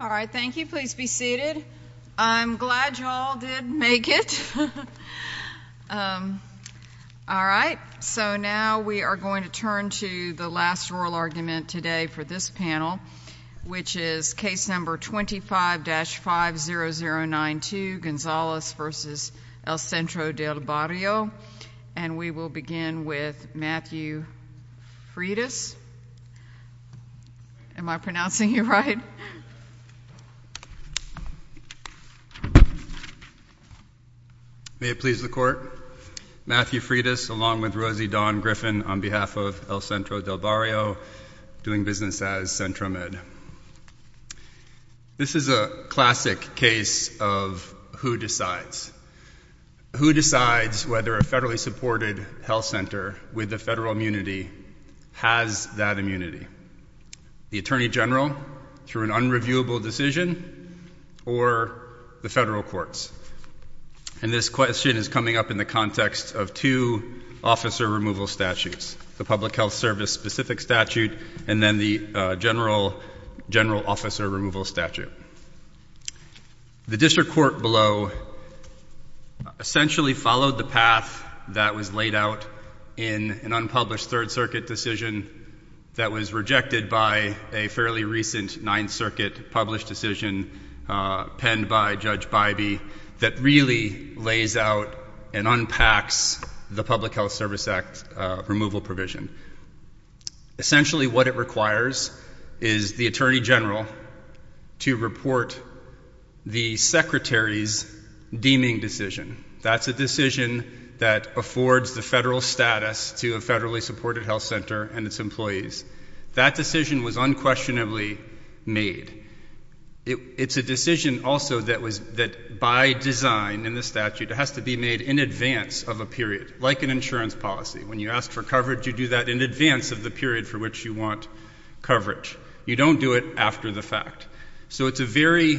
All right, thank you. Please be seated. I'm glad you all did make it. All right, so now we are going to turn to the last oral argument today for this panel, which is case number 25-50092, Gonzalez v. El Centro Del Barrio. And we will begin with Matthew Freitas. Am I pronouncing you right? May it please the Court. Matthew Freitas, along with Rosie Dawn This is a classic case of who decides. Who decides whether a federally supported health center with a federal immunity has that immunity? The Attorney General through an unreviewable decision or the federal courts? And this question is coming up in the context of two officer removal statutes, the Public Health Service specific statute and then the general officer removal statute. The district court below essentially followed the path that was laid out in an unpublished Third Circuit decision that was rejected by a fairly recent Ninth Circuit published decision penned by Judge Bybee that really lays out and unpacks the Public Health Service Act removal provision. Essentially what it requires is the Attorney General to report the Secretary's deeming decision. That's a decision that affords the federal status to a federally supported health center and its employees. That decision was unquestionably made. It's a decision also that by design in the statute has to be made in advance of a period, like an insurance policy. When you ask for coverage, you do that in advance of the period for which you want coverage. You don't do it after the fact. So it's a very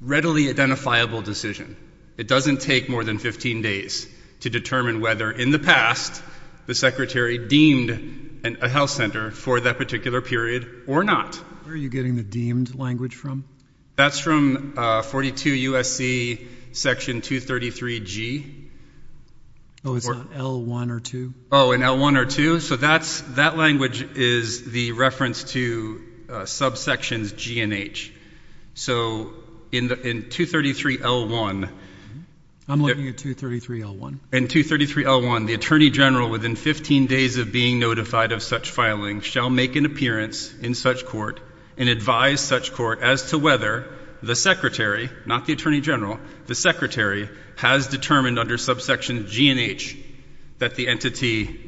readily identifiable decision. It doesn't take more than 15 days to determine whether in the past the Secretary deemed a health center for that particular period or not. Where are you getting the deemed language from? That's from 42 U.S.C. Section 233G. Oh, it's not L1 or 2? Oh, in L1 or 2? So that language is the reference to subsections G and H. So in 233L1 I'm looking at 233L1. In 233L1, the Attorney General within 15 days of being notified of such filing shall make an appearance in such court and advise such court as to whether the Secretary, not the entity,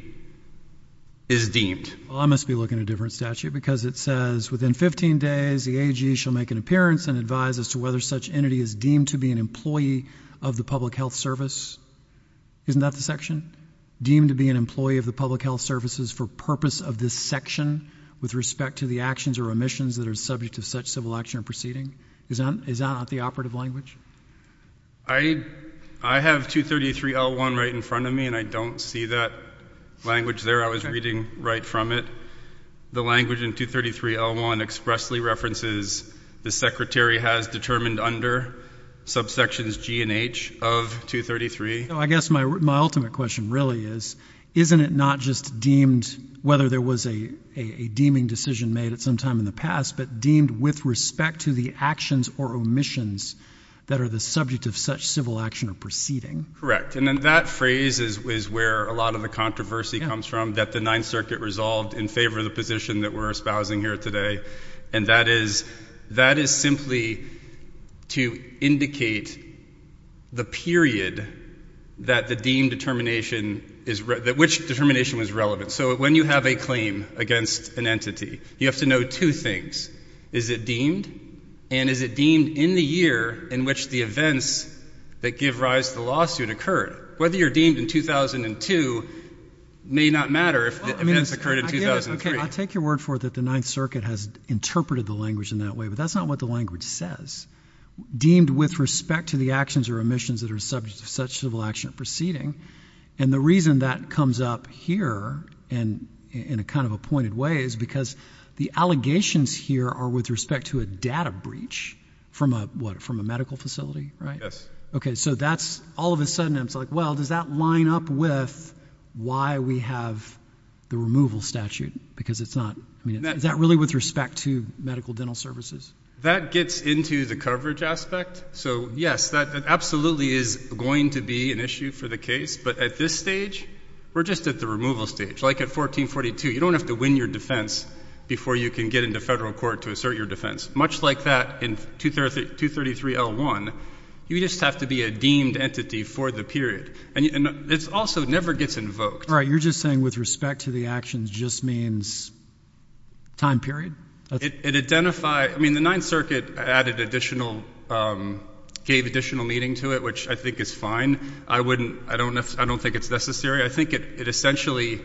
is deemed. Well, I must be looking at a different statute because it says within 15 days the AG shall make an appearance and advise as to whether such entity is deemed to be an employee of the public health service. Isn't that the section? Deemed to be an employee of the public health services for purpose of this section with respect to the actions or remissions that are subject to such civil action or proceeding? Is that not the operative language? I have 233L1 right in front of me and I don't see that language there. I was reading right from it. The language in 233L1 expressly references the Secretary has determined under subsections G and H of 233. I guess my ultimate question really is, isn't it not just deemed, whether there was a deeming decision made at some time in the past, but deemed with respect to the actions or omissions that are the subject of such civil action or proceeding? Correct. And then that phrase is where a lot of the controversy comes from, that the Ninth Circuit resolved in favor of the position that we're espousing here today. And that is, that is simply to indicate the period that the deemed determination is, which determination was relevant. So when you have a claim against an entity, you have to know two things. Is it deemed? And is it deemed in the year in which the events that give rise to the lawsuit occurred? Whether you're deemed in 2002 may not matter if the events occurred in 2003. Okay. I'll take your word for it that the Ninth Circuit has interpreted the language in that way, but that's not what the language says. Deemed with respect to the actions or omissions that are subject to such civil action or proceeding. And the reason that comes up here and in a kind of a pointed way is because the allegations here are with respect to a data breach from a, what, from a medical facility, right? Yes. Okay. So that's all of a sudden I'm like, well, does that line up with why we have the removal statute? Because it's not, I mean, is that really with respect to medical dental services? That gets into the coverage aspect. So yes, that absolutely is going to be an issue for the case. But at this stage, we're just at the removal stage. Like at 1442, you don't have to win your defense before you can get into federal court to assert your defense. Much like that in 233L1, you just have to be a deemed entity for the period. And it also never gets invoked. All right. You're just saying with respect to the actions just means time period? It identified, I mean, the Ninth Circuit added additional, gave additional meaning to it, which I think is fine. I wouldn't, I don't, I don't think it's necessary. I think it essentially,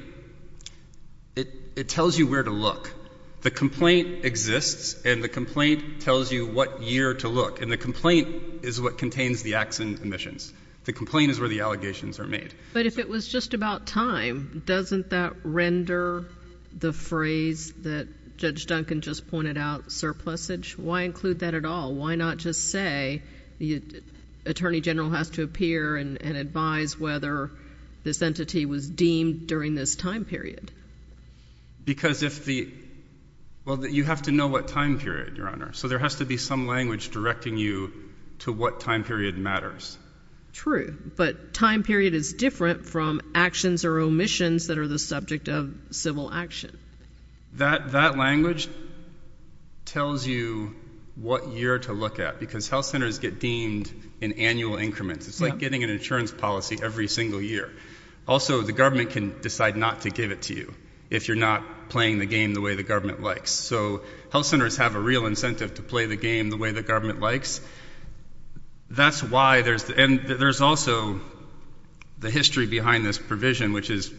it tells you where to look. The complaint exists and the complaint tells you what year to look. And the complaint is what contains the accident admissions. The complaint is where the allegations are made. But if it was just about time, doesn't that render the phrase that Judge Duncan just pointed out surplusage? Why include that at all? Why not just say the Attorney General has to appear and advise whether this entity was deemed during this time period? Because if the, well, you have to know what time period, Your Honor. So there has to be some language directing you to what time period matters. True. But time period is different from actions or omissions that are the subject of civil action. That, that language tells you what year to look at because health centers get deemed in annual increments. It's like getting an insurance policy every single year. Also, the government can decide not to give it to you if you're not playing the game the way the government likes. So health centers have a real incentive to play the game the way the government likes. That's why there's, and there's also the history behind this provision which is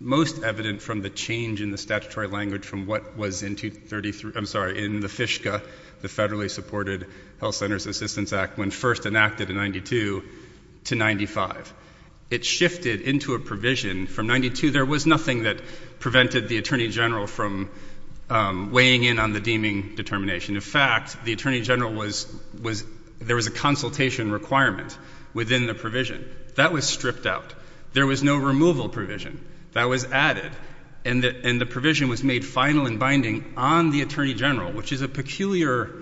most evident from the change in the statutory language from what was in 233, I'm sorry, in the FISCA, the Federally Supported Health Centers Assistance Act, when first enacted in 92 to 95. It shifted into a provision from 92, there was nothing that prevented the Attorney General from weighing in on the deeming determination. In fact, the Attorney General was, was, there was a consultation requirement within the provision. That was stripped out. There was no removal provision. That was added. And the, and the provision was made final and binding on the Attorney General, which is a peculiar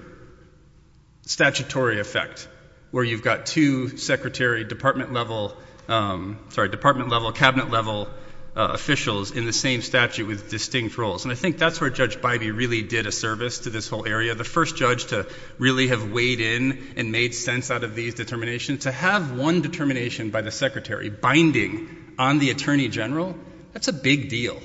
statutory effect where you've got two secretary department level, sorry, department level, cabinet level officials in the same statute with distinct roles. And I think that's where Judge Bybee really did a service to this whole area. The first judge to really have weighed in and made sense out of these determinations, to have one determination by the secretary binding on the Attorney General, that's a big deal.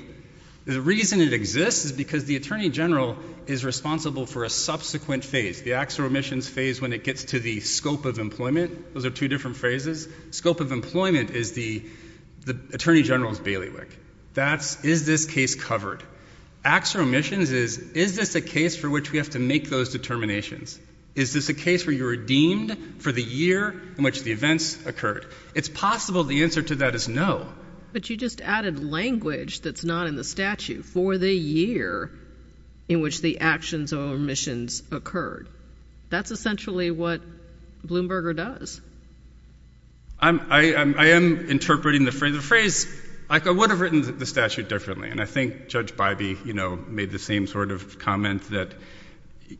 The reason it exists is because the Attorney General is responsible for a subsequent phase, the acts or omissions phase when it gets to the scope of employment. Those are two different phases. Scope of employment is the, the Attorney General's bailiwick. That's, is this case covered? Acts or omissions is, is this a case for which we have to make those determinations? Is this a case where you're redeemed for the year in which the events occurred? It's possible the answer to that is no. But you just added language that's not in the statute, for the year in which the actions or omissions occurred. That's essentially what Bloomberger does. I'm, I, I am interpreting the phrase, the phrase, like I would have written the statute differently. And I think Judge Bybee, you know, made the same sort of comment that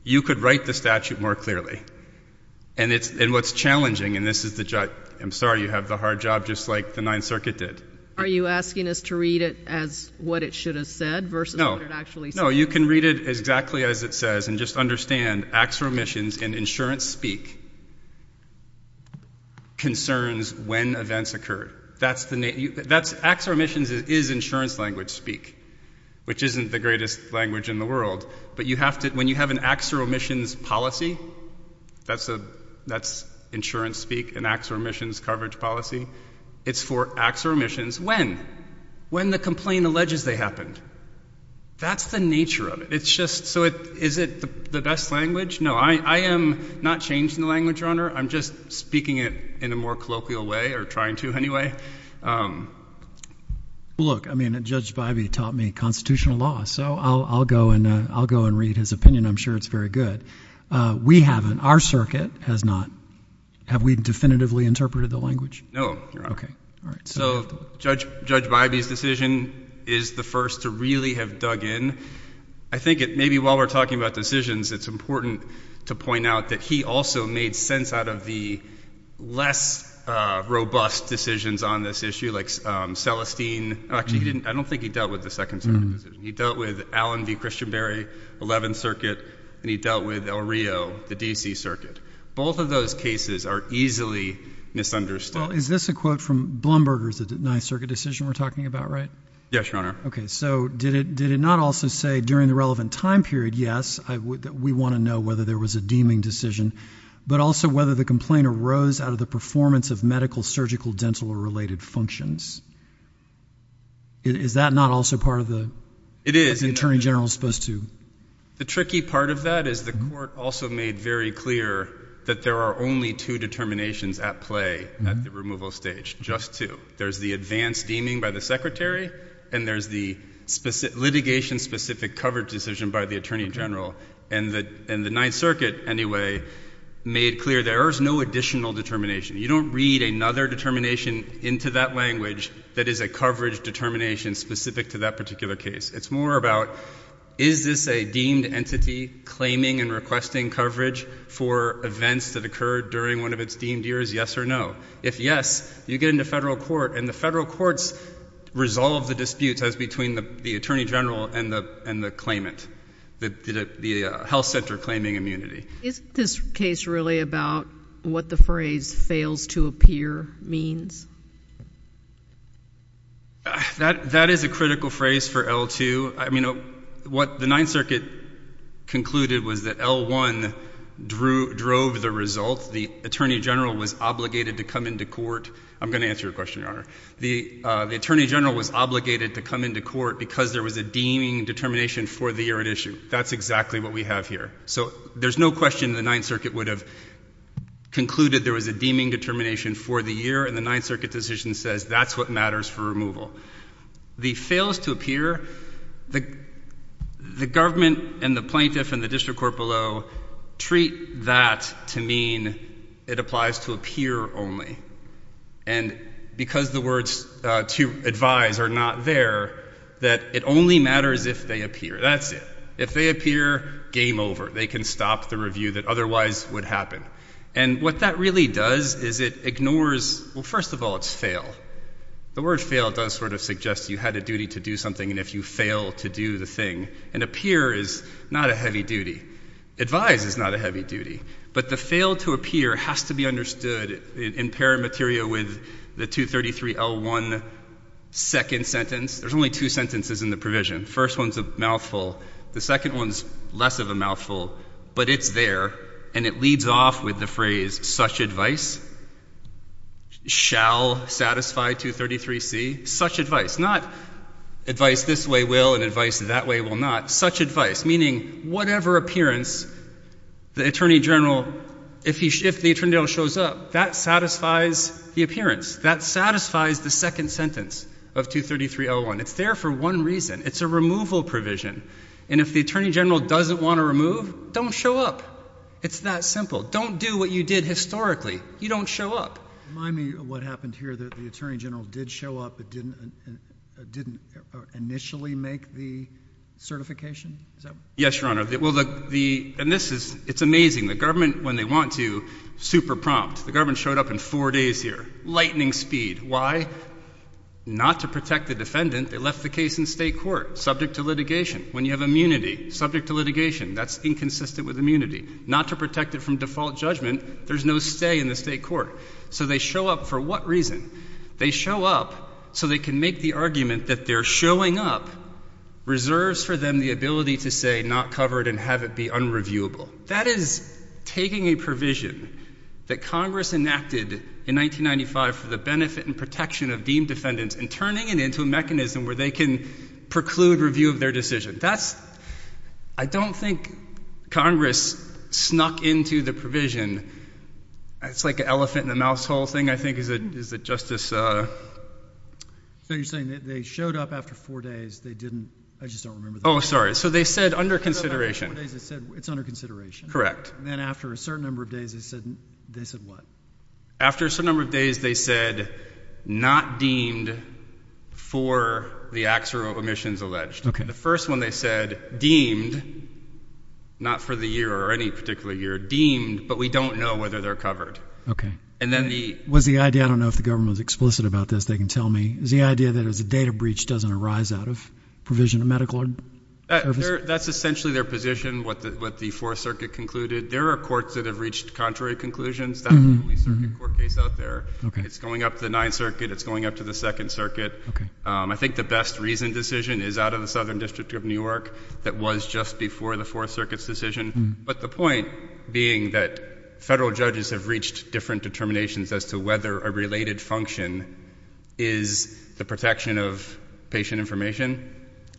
you could write the statute more clearly. And it's, and what's challenging, and this is the judge, I'm sorry, you have the hard job just like the Ninth Circuit did. Are you asking us to read it as what it should have said versus what it actually said? No. No, you can read it exactly as it says and just understand acts or omissions and insurance speak concerns when events occurred. That's the, that's, acts or omissions is, is insurance language speak, which isn't the greatest language in the world, but you have to, when you have an acts or omissions policy, that's a, that's insurance speak and acts or omissions coverage policy. It's for acts or omissions when, when the complaint alleges they happened. That's the nature of it. It's just, so it, is it the best language? No, I, I am not changing the language, Your Honor. I'm just speaking it in a more colloquial way or trying to anyway. Look, I mean, Judge Bybee taught me constitutional law, so I'll, I'll go and, I'll go and read his opinion. I'm sure it's very good. We haven't, our circuit has not. Have we definitively interpreted the language? No, Your Honor. Okay. All right. So Judge, Judge Bybee's decision is the first to really have dug in. I think it, maybe while we're talking about decisions, it's important to point out that he also made sense out of the less, uh, robust decisions on this issue. Like, um, Celestine, actually he didn't, I don't think he dealt with the second circuit. He dealt with Allen v. Christianberry, 11th circuit, and he dealt with El Rio, the DC circuit. Both of those cases are easily misunderstood. Well, is this a quote from Blumberger's ninth circuit decision we're talking about, right? Yes, Your Honor. Okay. So did it, did it not also say during the relevant time period? Yes, I would, we want to know whether there was a deeming decision, but also whether the complaint arose out of the performance of medical, surgical, dental, or related functions. Is that not also part of the, it is, the attorney general is supposed to. The tricky part of that is the court also made very clear that there are only two determinations at play at the removal stage, just two. There's the advanced deeming by the secretary and there's the specific litigation specific coverage decision by the attorney general. And the, and the ninth circuit anyway, made clear there is no additional determination. You don't read another determination into that language that is a coverage determination specific to that particular case. It's more about, is this a deemed entity claiming and requesting coverage for events that occurred during one of its deemed years, yes or no? If yes, you get into federal court and the federal courts resolve the disputes as between the attorney general and the, and the claimant, the, the, the health center claiming immunity. Is this case really about what the phrase fails to appear means? That is a critical phrase for L2. I mean, what the ninth circuit concluded was that L1 drew, drove the result. The attorney general was obligated to come into court. I'm going to answer your question, Your Honor. The, the attorney general was obligated to come into court because there was a deeming determination for the year at issue. That's exactly what we have here. So there's no question the ninth circuit would have concluded there was a deeming determination for the year and the ninth circuit decision says that's what matters for removal. The fails to appear, the, the government and the plaintiff and the district court below treat that to mean it applies to appear only. And because the words to advise are not there, that it only matters if they appear. That's it. If they appear, game over. They can stop the review that otherwise would happen. And what that really does is it ignores, well, first of all, it's fail. The word fail does sort of suggest you had a duty to do something and if you fail to do the thing and appear is not a heavy duty. Advise is not a heavy duty, but the fail to appear has to be understood in parent material with the 233 L1 second sentence. There's only two sentences in the provision. First one's a mouthful. The second one's less of a mouthful, but it's there and it leads off with the phrase, such advice shall satisfy 233 C. Such advice, not advice this way will and advice that way will not. Such advice, meaning whatever appearance the attorney general, if he, if the attorney general shows up, that satisfies the appearance. That satisfies the second sentence of 233 L1. It's there for one reason. It's a removal provision. And if the attorney general doesn't want to remove, don't show up. It's that simple. Don't do what you did historically. You don't show up. Remind me of what happened here that the attorney general did show up, but didn't, didn't initially make the certification. Yes, Your Honor. Well, the, the, and this is, it's amazing. The government, when they want to, super prompt, the government showed up in four days here, lightning speed. Why? Not to protect the defendant. They left the case in state court, subject to litigation. When you have immunity, subject to litigation, that's inconsistent with immunity. Not to protect it from default judgment. There's no stay in the state court. So they show up for what reason? They show up so they can make the argument that their showing up reserves for them the ability to say not covered and have it be unreviewable. That is taking a provision that Congress enacted in 1995 for the benefit and protection of deemed defendants and turning it into a mechanism where they can preclude review of their decision. That's, I don't think Congress snuck into the provision. It's like an elephant in a mouse hole thing, I think, is it, is it, Justice, uh. So you're saying that they showed up after four days, they didn't, I just don't remember. Oh, sorry. So they said under consideration. They showed up after four days, they said it's under consideration. Correct. And then after a certain number of days, they said, they said what? After a certain number of days, they said, not deemed for the acts or omissions alleged. Okay. The first one they said, deemed, not for the year or any particular year, deemed, but we don't know whether they're covered. Okay. And then the. Was the idea, I don't know if the government was explicit about this, they can tell me, is the idea that it was a data breach doesn't arise out of provision of medical services? That's essentially their position, what the Fourth Circuit concluded. There are courts that have reached contrary conclusions, that's the only circuit court case out there. Okay. It's going up to the Ninth Circuit, it's going up to the Second Circuit. Okay. Um, I think the best reasoned decision is out of the Southern District of New York, that was just before the Fourth Circuit's decision, but the point being that federal judges have reached different determinations as to whether a related function is the protection of patient information.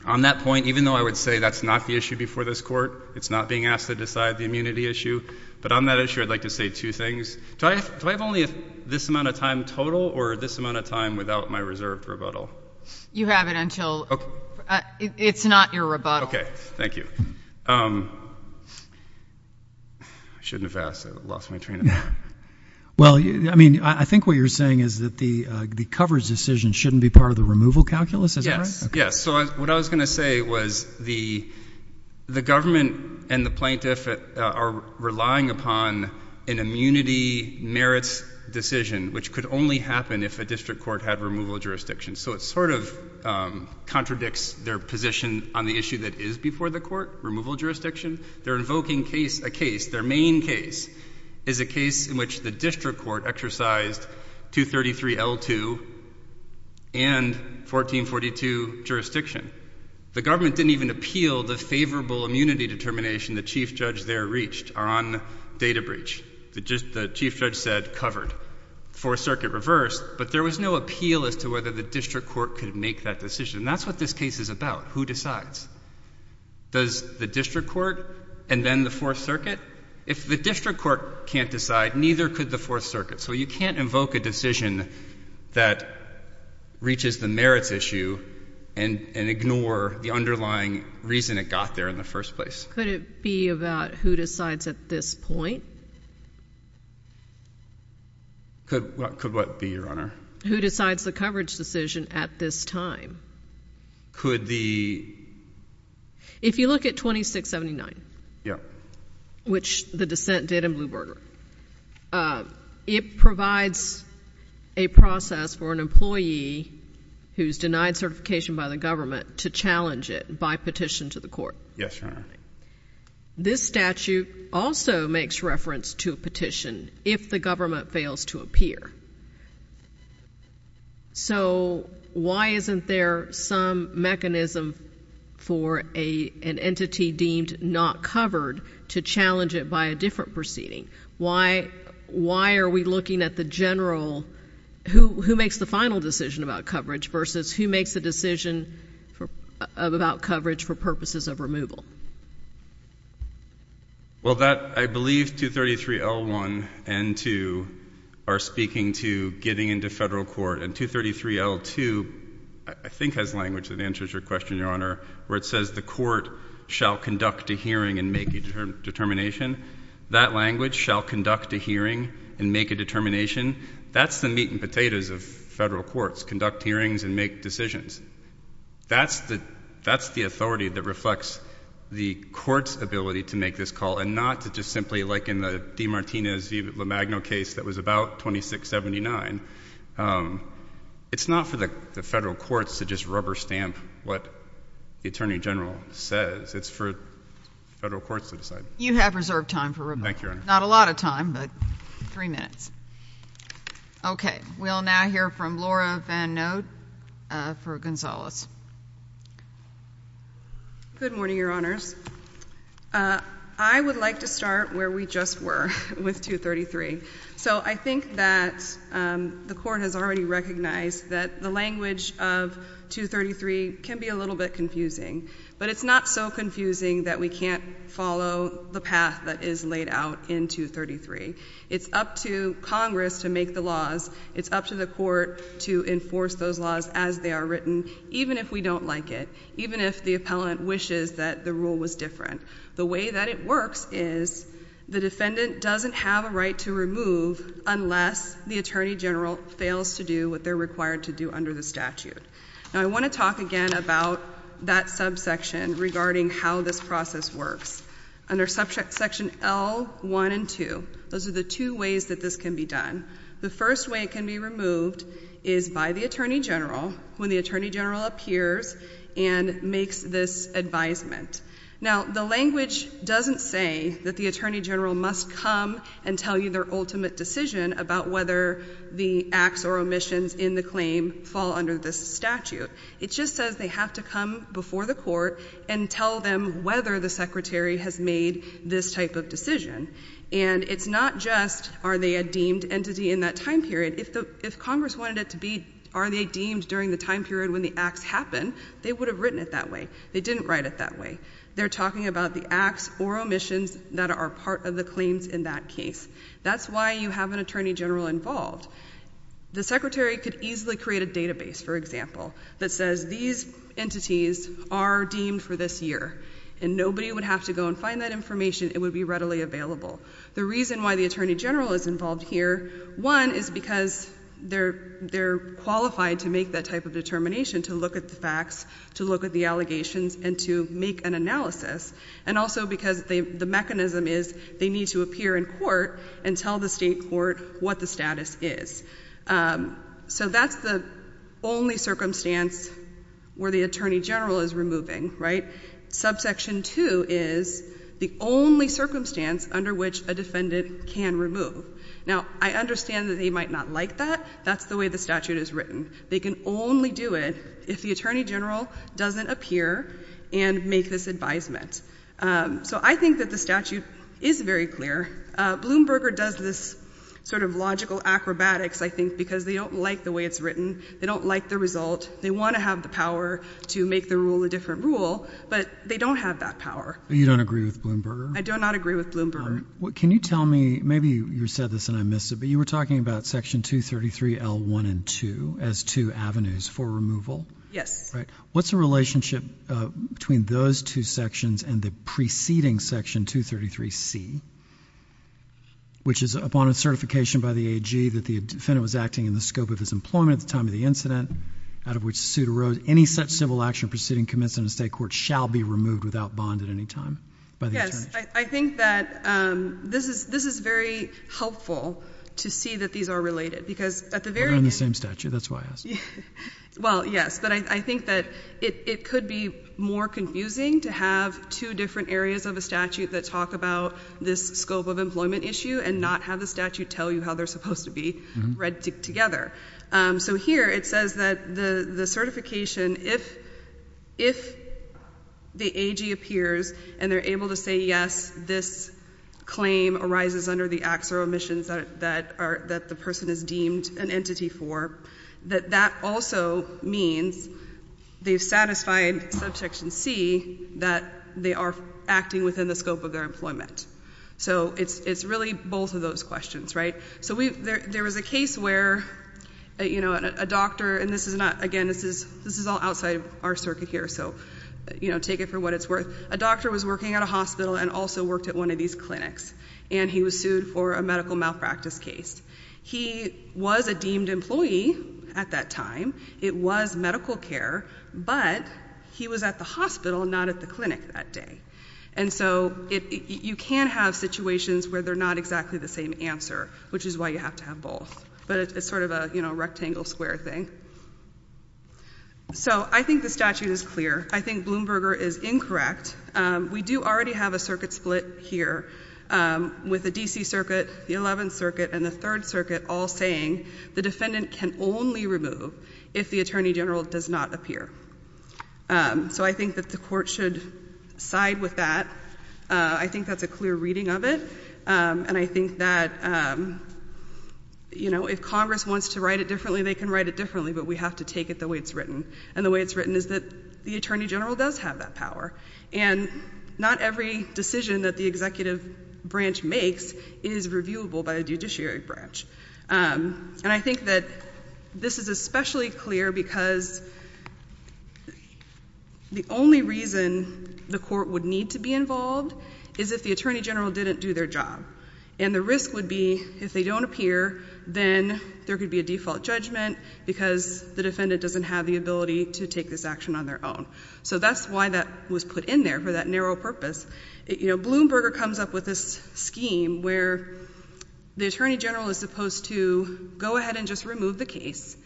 On that point, even though I would say that's not the issue before this court, it's not being asked to decide the immunity issue, but on that issue I'd like to say two things. Do I have only this amount of time total, or this amount of time without my reserved rebuttal? You have it until, it's not your rebuttal. Okay, thank you. Um, I shouldn't have asked, I lost my train of thought. Well, I mean, I think what you're saying is that the coverage decision shouldn't be part of the removal calculus, is that right? Yes, yes. So what I was going to say was the, the government and the plaintiff are relying upon an immunity merits decision, which could only happen if a district court had removal jurisdiction. So it sort of, um, contradicts their position on the issue that is before the court, removal jurisdiction. They're invoking case, a case, their main case is a case in which the district court exercised 233 L2 and 1442 jurisdiction. The government didn't even appeal the favorable immunity determination the chief judge there reached on data breach. The chief judge said covered. Fourth Circuit reversed, but there was no appeal as to whether the district court could make that decision. And that's what this case is about. Who decides? Does the district court and then the fourth circuit? If the district court can't decide, neither could the fourth circuit. So you can't invoke a decision that reaches the merits issue and, and ignore the underlying reason it got there in the first place. Could it be about who decides at this point? Could what, could what be your honor? Who decides the coverage decision at this time? Could the, if you look at 2679? Yeah. Which the dissent did in Bluebird. Uh, it provides a process for an employee who's denied certification by the government to challenge it by petition to the court. Yes. This statute also makes reference to a petition if the government fails to appear. So why isn't there some mechanism for a, an entity deemed not covered to challenge it by a different proceeding? Why, why are we looking at the general who, who makes the final decision about coverage versus who makes the decision for, uh, about coverage for purposes of removal? Well that I believe 233L1 and 2 are speaking to getting into federal court and 233L2 is I think has language that answers your question, your honor, where it says the court shall conduct a hearing and make a determination. That language shall conduct a hearing and make a determination. That's the meat and potatoes of federal courts, conduct hearings and make decisions. That's the, that's the authority that reflects the court's ability to make this call and not to just simply like in the Demartinez v. LaMagno case that was about 2679, um, it's not for the federal courts to just rubber stamp what the attorney general says. It's for federal courts to decide. You have reserved time for removal. Thank you, your honor. Not a lot of time, but three minutes. Okay. We'll now hear from Laura Van Node, uh, for Gonzalez. Good morning, your honors. Uh, I would like to start where we just were with 233. So I think that, um, the court has already recognized that the language of 233 can be a little bit confusing, but it's not so confusing that we can't follow the path that is laid out in 233. It's up to Congress to make the laws. It's up to the court to enforce those laws as they are written, even if we don't like it, even if the appellant wishes that the rule was different. The way that it works is the defendant doesn't have a right to remove unless the attorney general fails to do what they're required to do under the statute. Now I want to talk again about that subsection regarding how this process works. Under subsection L1 and 2, those are the two ways that this can be done. The first way it can be removed is by the attorney general when the attorney general appears and makes this advisement. Now the language doesn't say that the attorney general must come and tell you their ultimate decision about whether the acts or omissions in the claim fall under this statute. It just says they have to come before the court and tell them whether the secretary has made this type of decision. And it's not just are they a deemed entity in that time period. If the, if Congress wanted it to be are they deemed during the time period when the acts happen, they would have written it that way. They didn't write it that way. They're talking about the acts or omissions that are part of the claims in that case. That's why you have an attorney general involved. The secretary could easily create a database, for example, that says these entities are deemed for this year. And nobody would have to go and find that information. It would be readily available. The reason why the attorney general is involved here, one, is because they're qualified to make that type of determination, to look at the facts, to look at the allegations, and to make an analysis. And also because the mechanism is they need to appear in court and tell the state court what the status is. So that's the only circumstance where the attorney general is removing, right? Subsection 2 is the only circumstance under which a defendant can remove. Now, I understand that they might not like that. That's the way the statute is written. They can only do it if the attorney general doesn't appear and make this advisement. So I think that the statute is very clear. Bloomberger does this sort of logical acrobatics, I think, because they don't like the way it's written. They don't like the result. They want to have the power to make the rule a matter of fact power. You don't agree with Bloomberger? I do not agree with Bloomberger. Can you tell me, maybe you said this and I missed it, but you were talking about Section 233L1 and 2 as two avenues for removal. Yes. Right. What's the relationship between those two sections and the preceding Section 233C, which is, upon a certification by the AG that the defendant was acting in the scope of his employment at the time of the incident, out of which the suit arose, any such civil action proceeding commenced in a state court shall be removed without bond at any time by the attorney general? Yes. I think that this is very helpful to see that these are related, because at the very end—We're on the same statute. That's why I asked. Well, yes, but I think that it could be more confusing to have two different areas of a statute that talk about this scope of employment issue and not have the statute tell you how they're supposed to be read together. So here it says that the certification, if the AG appears and they're able to say, yes, this claim arises under the acts or omissions that the person is deemed an entity for, that that also means they've satisfied Subsection C that they are acting within the scope of their employment. So it's really both of those questions, right? So there was a case where, you know, a doctor and this is not, again, this is all outside our circuit here, so, you know, take it for what it's worth. A doctor was working at a hospital and also worked at one of these clinics, and he was sued for a medical malpractice case. He was a deemed employee at that time. It was medical care, but he was at the hospital, not at the clinic that day. And so you can have situations where they're not exactly the same answer, which is why you have to have both. But it's sort of a, you know, rectangle square thing. So I think the statute is clear. I think Bloomberger is incorrect. We do already have a circuit split here with the D.C. Circuit, the Eleventh Circuit, and the Third Circuit all saying the defendant can only remove if the Attorney General does not appear. So I think that the Court should side with that. I think that's a clear reading of it, and I think that the you know, if Congress wants to write it differently, they can write it differently, but we have to take it the way it's written. And the way it's written is that the Attorney General does have that power. And not every decision that the executive branch makes is reviewable by a judiciary branch. And I think that this is especially clear because the only reason the Court would need to be involved is if the Attorney General didn't do their job. And the risk would be if they don't appear, then there could be a default judgment because the defendant doesn't have the ability to take this action on their own. So that's why that was put in there for that narrow purpose. You know, Bloomberger comes up with this scheme where the Attorney General is supposed to go ahead and just remove the case,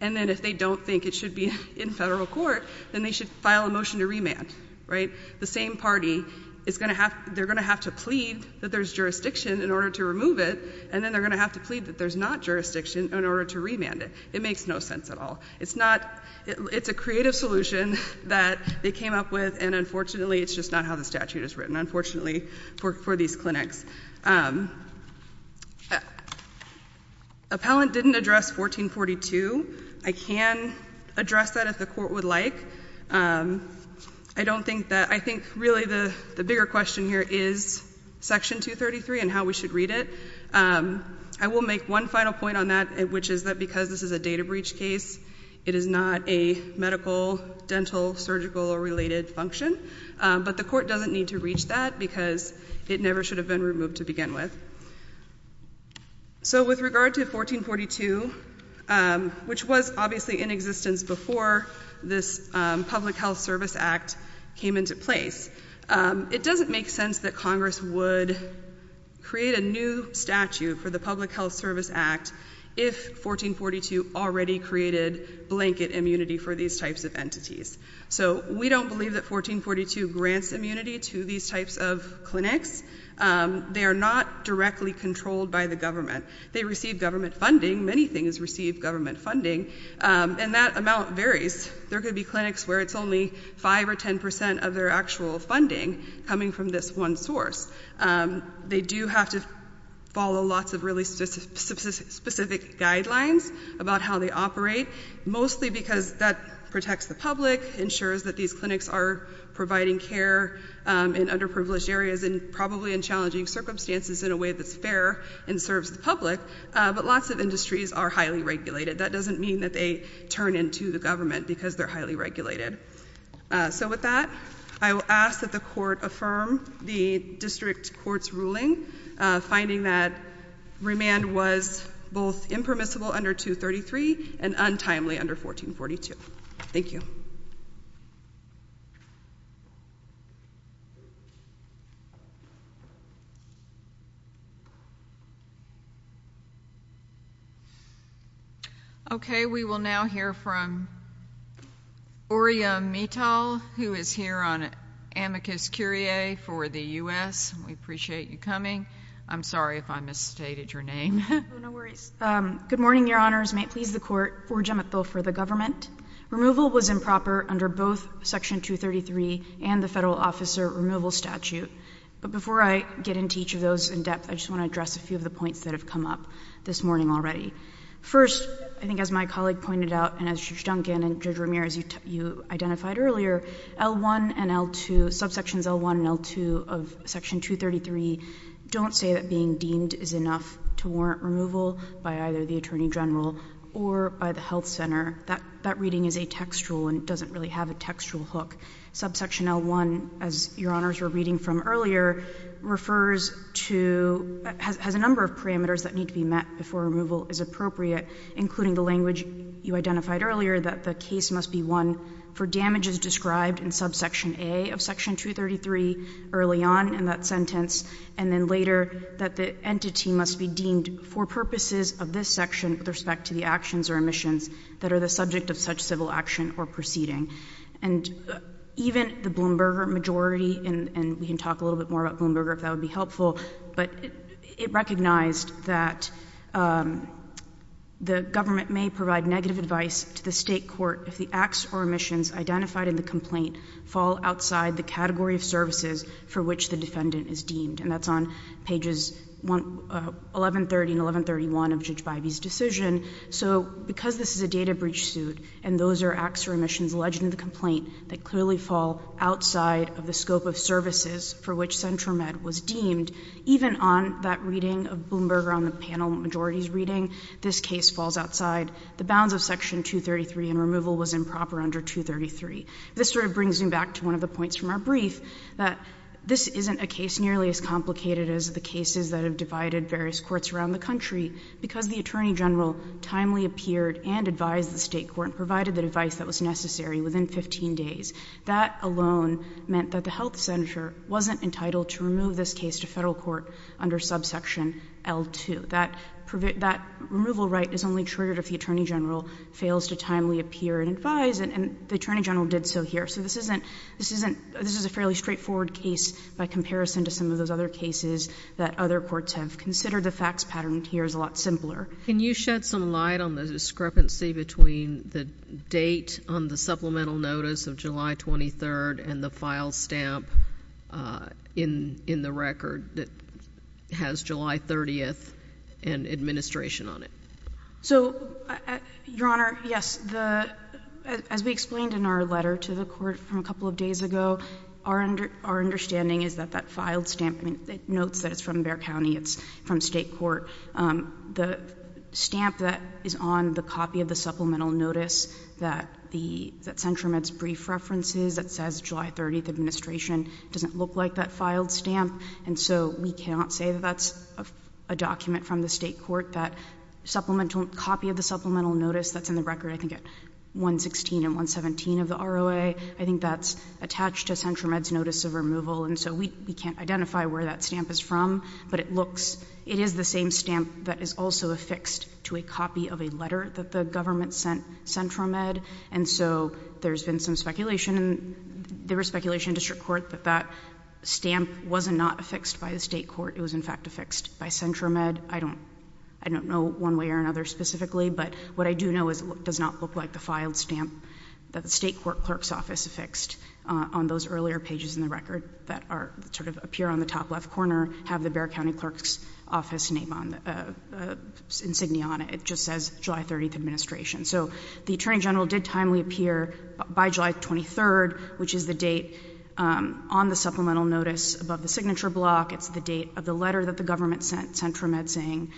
and then if they don't think it should be in federal court, then they should file a motion to remand, right? The same party is going to have, they're going to have to plead that there's jurisdiction in order to remove it, and then they're going to have to plead that there's not jurisdiction in order to remand it. It makes no sense at all. It's not, it's a creative solution that they came up with, and unfortunately it's just not how the statute is written, unfortunately, for these clinics. Appellant didn't address 1442. I can address that if the Court would like. I don't think that, I think really the bigger question here is Section 233 and how we should read it. I will make one final point on that, which is that because this is a data breach case, it is not a medical, dental, surgical, or related function. But the Court doesn't need to reach that because it never should have been removed to begin with. So, with regard to 1442, which was obviously in existence before this Public Health Service Act came into place, it doesn't make sense that Congress would create a new statute for the Public Health Service Act if 1442 already created blanket immunity for these types of entities. So, we don't believe that 1442 grants immunity to these types of clinics. They are not directly controlled by the government. They receive government funding, many things receive government funding, and that amount varies. There could be clinics where it's only 5 or 10 percent of their actual funding coming from this one source. They do have to follow lots of really specific guidelines about how they operate, mostly because that protects the public, ensures that these clinics are providing care in underprivileged areas and probably in challenging circumstances in a way that's fair and serves the public, but lots of industries are highly regulated. That doesn't mean that they turn into the government because they're highly regulated. So, with that, I will ask that the Court affirm the District Court's ruling finding that remand was both impermissible under 233 and untimely under 1442. Thank you. Okay, we will now hear from Oriya Mittal, who is here on amicus curiae for the U.S. We appreciate you coming. I'm sorry if I misstated your name. No worries. Good morning, Your Honors. May it please the Court, Oriya Mittal for the government. Removal was improper under both Section 233 and the Federal Officer Removal Statute, but before I get into each of those in depth, I just want to address a few of the points that have come up this morning already. First, I think as my colleague pointed out and as Judge Duncan and Judge Ramirez, you identified earlier, L1 and L2, subsections L1 and L2 of Section 233, don't say that being deemed is enough to warrant removal by either the Attorney General or by the health center. That reading is a textual and doesn't really have a textual hook. Subsection L1, as Your Honors were reading from earlier, refers to, has a number of parameters that need to be met before removal is appropriate, including the language you identified earlier that the case must be won for damages described in subsection A of Section 233 early on, and that sentence, and then later that the entity must be deemed for purposes of this section with respect to the actions or omissions that are the subject of such civil action or proceeding. And even the Bloomberger majority, and we can talk a little bit more about Bloomberger if that would be helpful, but it recognized that the government may provide negative advice to the State Court if the acts or omissions identified in the complaint fall outside the category of services for which the defendant is deemed. And that's on pages 1130 and 1131 of Judge Bivey's decision. So because this is a data breach suit and those are acts or omissions alleged in the complaint that clearly fall outside of the scope of services for which Centromed was deemed, even on that reading of Bloomberger on the panel majority's reading, this case falls outside the bounds of Section 233 and removal was improper under 233. This sort of brings me back to one of the points from our brief that this isn't a case nearly as complicated as the cases that have divided various courts around the country because the Attorney General timely appeared and advised the State Court and provided the advice that was necessary within 15 days. That alone meant that the health senator wasn't entitled to remove this case to federal court under subsection L2. That removal right is only triggered if the Attorney General fails to timely appear and advise and the Attorney General did so here. So this isn't, this isn't, this is a fairly straightforward case by comparison to some of those other cases that other courts have considered. The facts patterned here is a lot simpler. Can you shed some light on the discrepancy between the date on the supplemental notice of July 23rd and the file stamp in the record that has July 30th and administration on it? So, Your Honor, yes, the, as we explained in our letter to the court from a couple of days ago, our understanding is that that filed stamp, it notes that it's from Bexar County, it's from State Court. The stamp that is on the copy of the supplemental notice that the, that Central Med's brief references that says July 30th, administration, doesn't look like that filed stamp. And so we cannot say that that's a document from the State Court that supplemental copy of the supplemental notice that's in the record, I think at 116 and 117 of the ROA, I think that's attached to Central Med's notice of removal. And so we, we can't identify where that stamp is from, but it looks, it is the same stamp that is also affixed to a copy of a letter that the government sent Central Med. And so there's been some speculation, there was speculation in district court that that stamp was not affixed by the State Court, it was in fact affixed by Central Med. I don't, I don't know one way or another specifically, but what I do know is it does not look like the filed stamp that the State Court clerk's office affixed on those earlier pages in the record that are, that sort of appear on the top left corner, have the Bexar County clerk's office name on, insignia on it. It just says July 30th, administration. So the Attorney General did timely appear by July 23rd, which is the date on the supplemental notice above the signature block. It's the date of the letter that the government sent Central Med saying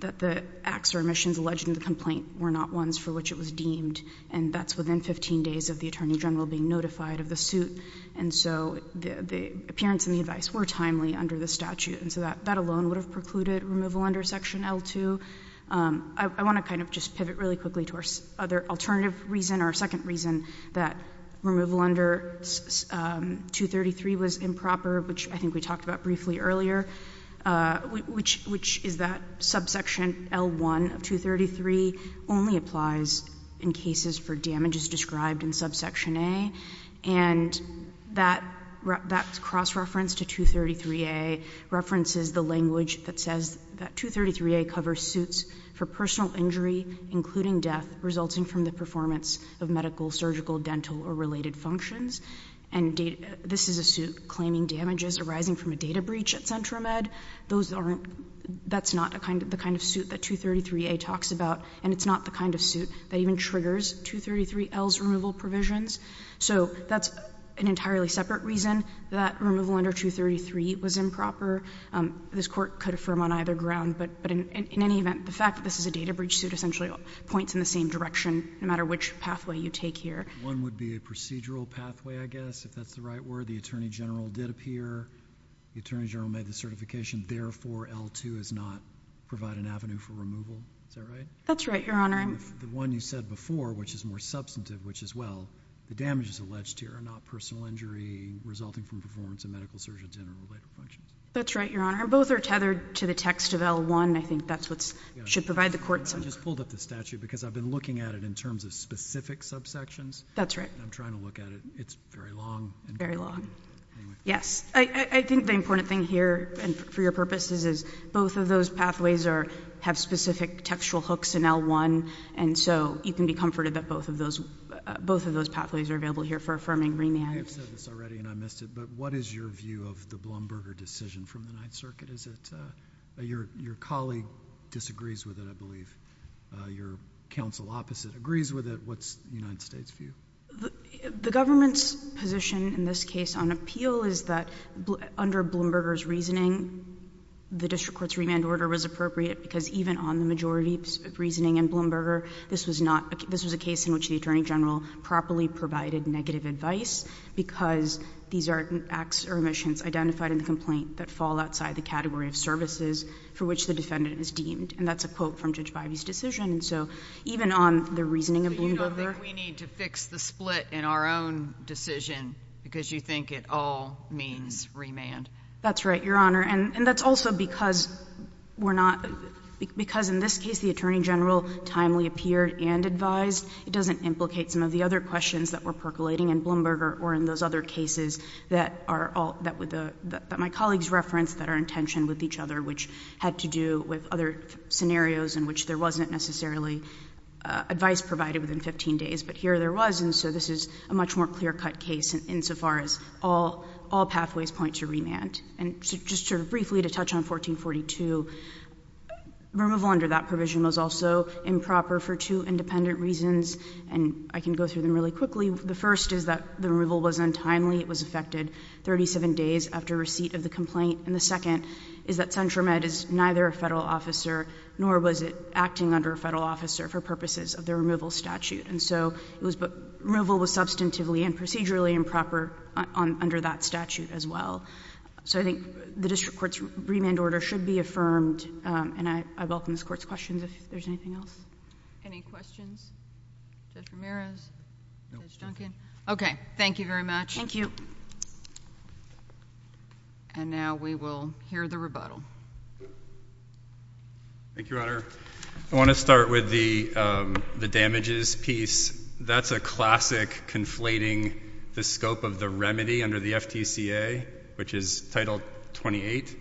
that the acts or omissions alleged in the complaint were not ones for which it was deemed. And that's within 15 days of the Attorney General being notified of the suit. And so the, the appearance and the advice were timely under the statute. And so that, that alone would have precluded removal under Section L2. I want to kind of just pivot really quickly to our other alternative reason, our second reason that removal under 233 was improper, which I think we talked about briefly earlier, which, which is that subsection L1 of 233 only applies in cases for damages described in subsection A. And that, that cross-reference to 233A references the language that says that 233A covers suits for personal injury, including death, resulting from the performance of medical, surgical, dental, or related functions. And this is a suit claiming damages arising from a data breach at Central Med. Those aren't, that's not a kind of, the kind of suit that 233A talks about. And it's not the kind of suit that even triggers 233L's removal provisions. So that's an entirely separate reason that removal under 233 was improper. This Court could affirm on either ground, but in any event, the fact that this is a data breach suit essentially points in the same direction, no matter which pathway you take here. One would be a procedural pathway, I guess, if that's the right word. The Attorney General did appear. The Attorney General made the certification. Therefore, L2 does not provide an avenue for removal. Is that right? That's right, Your Honor. And the one you said before, which is more substantive, which is, well, the damages alleged here are not personal injury resulting from performance of medical, surgical, dental, or related functions. That's right, Your Honor. And both are tethered to the text of L1. I think that's what should provide the court center. I just pulled up the statute because I've been looking at it in terms of specific subsections. That's right. I'm trying to look at it. It's very long. Very long. Anyway. Yes. I think the important thing here, and for your purposes, is both of those pathways are, have specific textual hooks in L1. And so you can be comforted that both of those, both of those pathways are available here for affirming remand. I've said this already and I missed it, but what is your view of the Blumberger decision from the Ninth Circuit? Is it, your colleague disagrees with it, I believe. Your counsel opposite agrees with it. What's the United States view? The government's position in this case on appeal is that under Blumberger's reasoning, the district court's remand order was appropriate because even on the majority of reasoning in Blumberger, this was not, this was a case in which the Attorney General properly provided negative advice because these are acts or omissions identified in the complaint that fall outside the category of services for which the defendant is deemed. And that's a quote from Judge Bivey's decision. And so even on the reasoning of Blumberger But you don't think we need to fix the split in our own decision because you think it all means remand? That's right, Your Honor. And that's also because we're not, because in this case the Attorney General timely appeared and advised. It doesn't implicate some of the other questions that were percolating in Blumberger or in those other cases that are all, that my colleagues referenced that are in tension with each other, which had to do with other scenarios in which there wasn't necessarily advice provided within 15 days. But here there was, and so this is a much more clear-cut case insofar as all pathways point to remand. And just sort of briefly to touch on 1442, removal under that provision was also improper for two independent reasons, and I can go through them really quickly. The first is that the removal was untimely. It was effected 37 days after receipt of the complaint. And the second is that Centromed is neither a Federal officer nor was it acting under a Federal officer for purposes of the removal statute. And so it was, removal was substantively and procedurally improper under that statute as well. So I think the district court's remand order should be affirmed, and I welcome this Court's questions if there's anything else. Any questions? Judge Ramirez? Judge Duncan? Okay. Thank you very much. And now we will hear the rebuttal. Thank you, Your Honor. I want to start with the damages piece. That's a classic conflating the scope of the remedy under the FTCA, which is Title 28,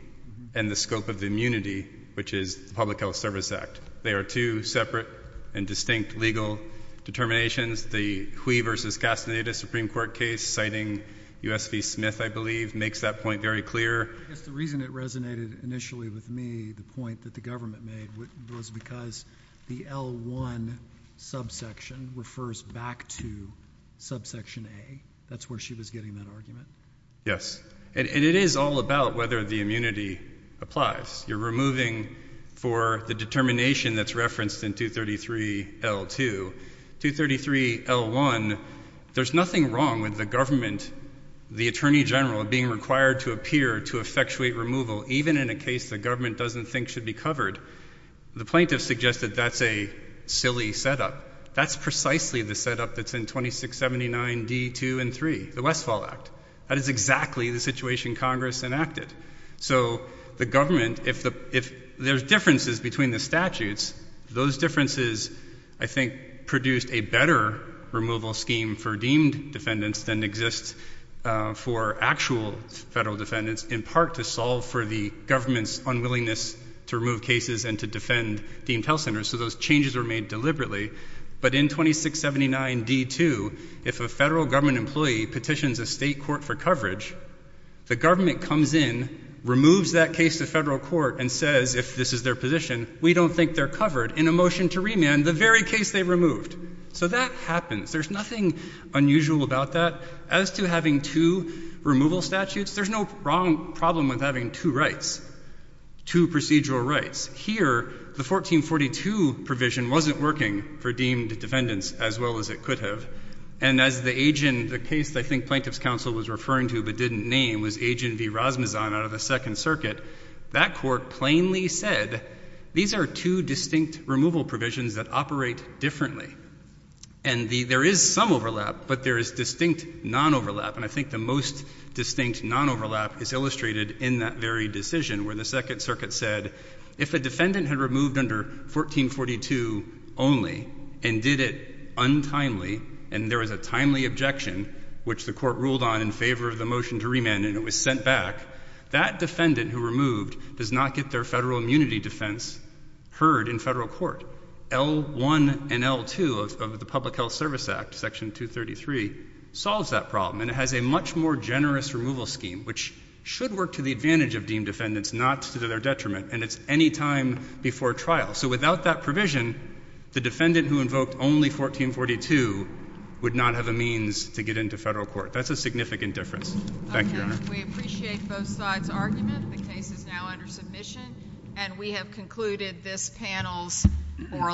and the scope of the immunity, which is the Public Health Service Act. They are two separate and distinct legal determinations. The Hui v. Castaneda Supreme Court case, citing U.S. v. Smith, I believe, makes that point very clear. I guess the reason it resonated initially with me, the point that the government made, was because the L-1 subsection refers back to subsection A. That's where she was getting that argument. Yes. And it is all about whether the immunity applies. You're removing for the determination that's referenced in 233 L-2. 233 L-1, there's nothing wrong with the government, the Attorney General, being required to appear to effectuate a removal, even in a case the government doesn't think should be covered. The plaintiff suggested that's a silly setup. That's precisely the setup that's in 2679 D-2 and 3, the Westfall Act. That is exactly the situation Congress enacted. So the government, if there's differences between the statutes, those differences, I think, produced a better removal scheme for deemed defendants than exists for actual federal defendants, in part to solve for the government's unwillingness to remove cases and to defend deemed health centers. So those changes were made deliberately. But in 2679 D-2, if a federal government employee petitions a state court for coverage, the government comes in, removes that case to federal court, and says, if this is their position, we don't think they're covered, in a motion to remand, the very case they removed. So that happens. There's nothing unusual about that. As to having two removal statutes, there's no wrong problem with having two rights, two procedural rights. Here, the 1442 provision wasn't working for deemed defendants as well as it could have. And as the agent, the case I think plaintiff's counsel was referring to but didn't name was Agent V. Rasmusson out of the Second Circuit, that court plainly said, these are two distinct removal provisions that operate differently. And there is some overlap, but there is distinct non-overlap. And I think the most distinct non-overlap is illustrated in that very decision where the Second Circuit said, if a defendant had removed under 1442 only and did it untimely, and there was a timely objection, which the court ruled on in favor of the motion to remand and it was sent back, that defendant who removed does not get their federal immunity defense heard in federal court. L-1 and L-2 of the Public Health Service Act, Section 233, solves that problem. And it has a much more generous removal scheme, which should work to the advantage of deemed defendants, not to their detriment. And it's any time before trial. So without that provision, the defendant who invoked only 1442 would not have a means to get into federal court. That's a significant difference. Thank you, Your Honor. We appreciate both sides' argument. The case is now under submission. And we have concluded this panel's oral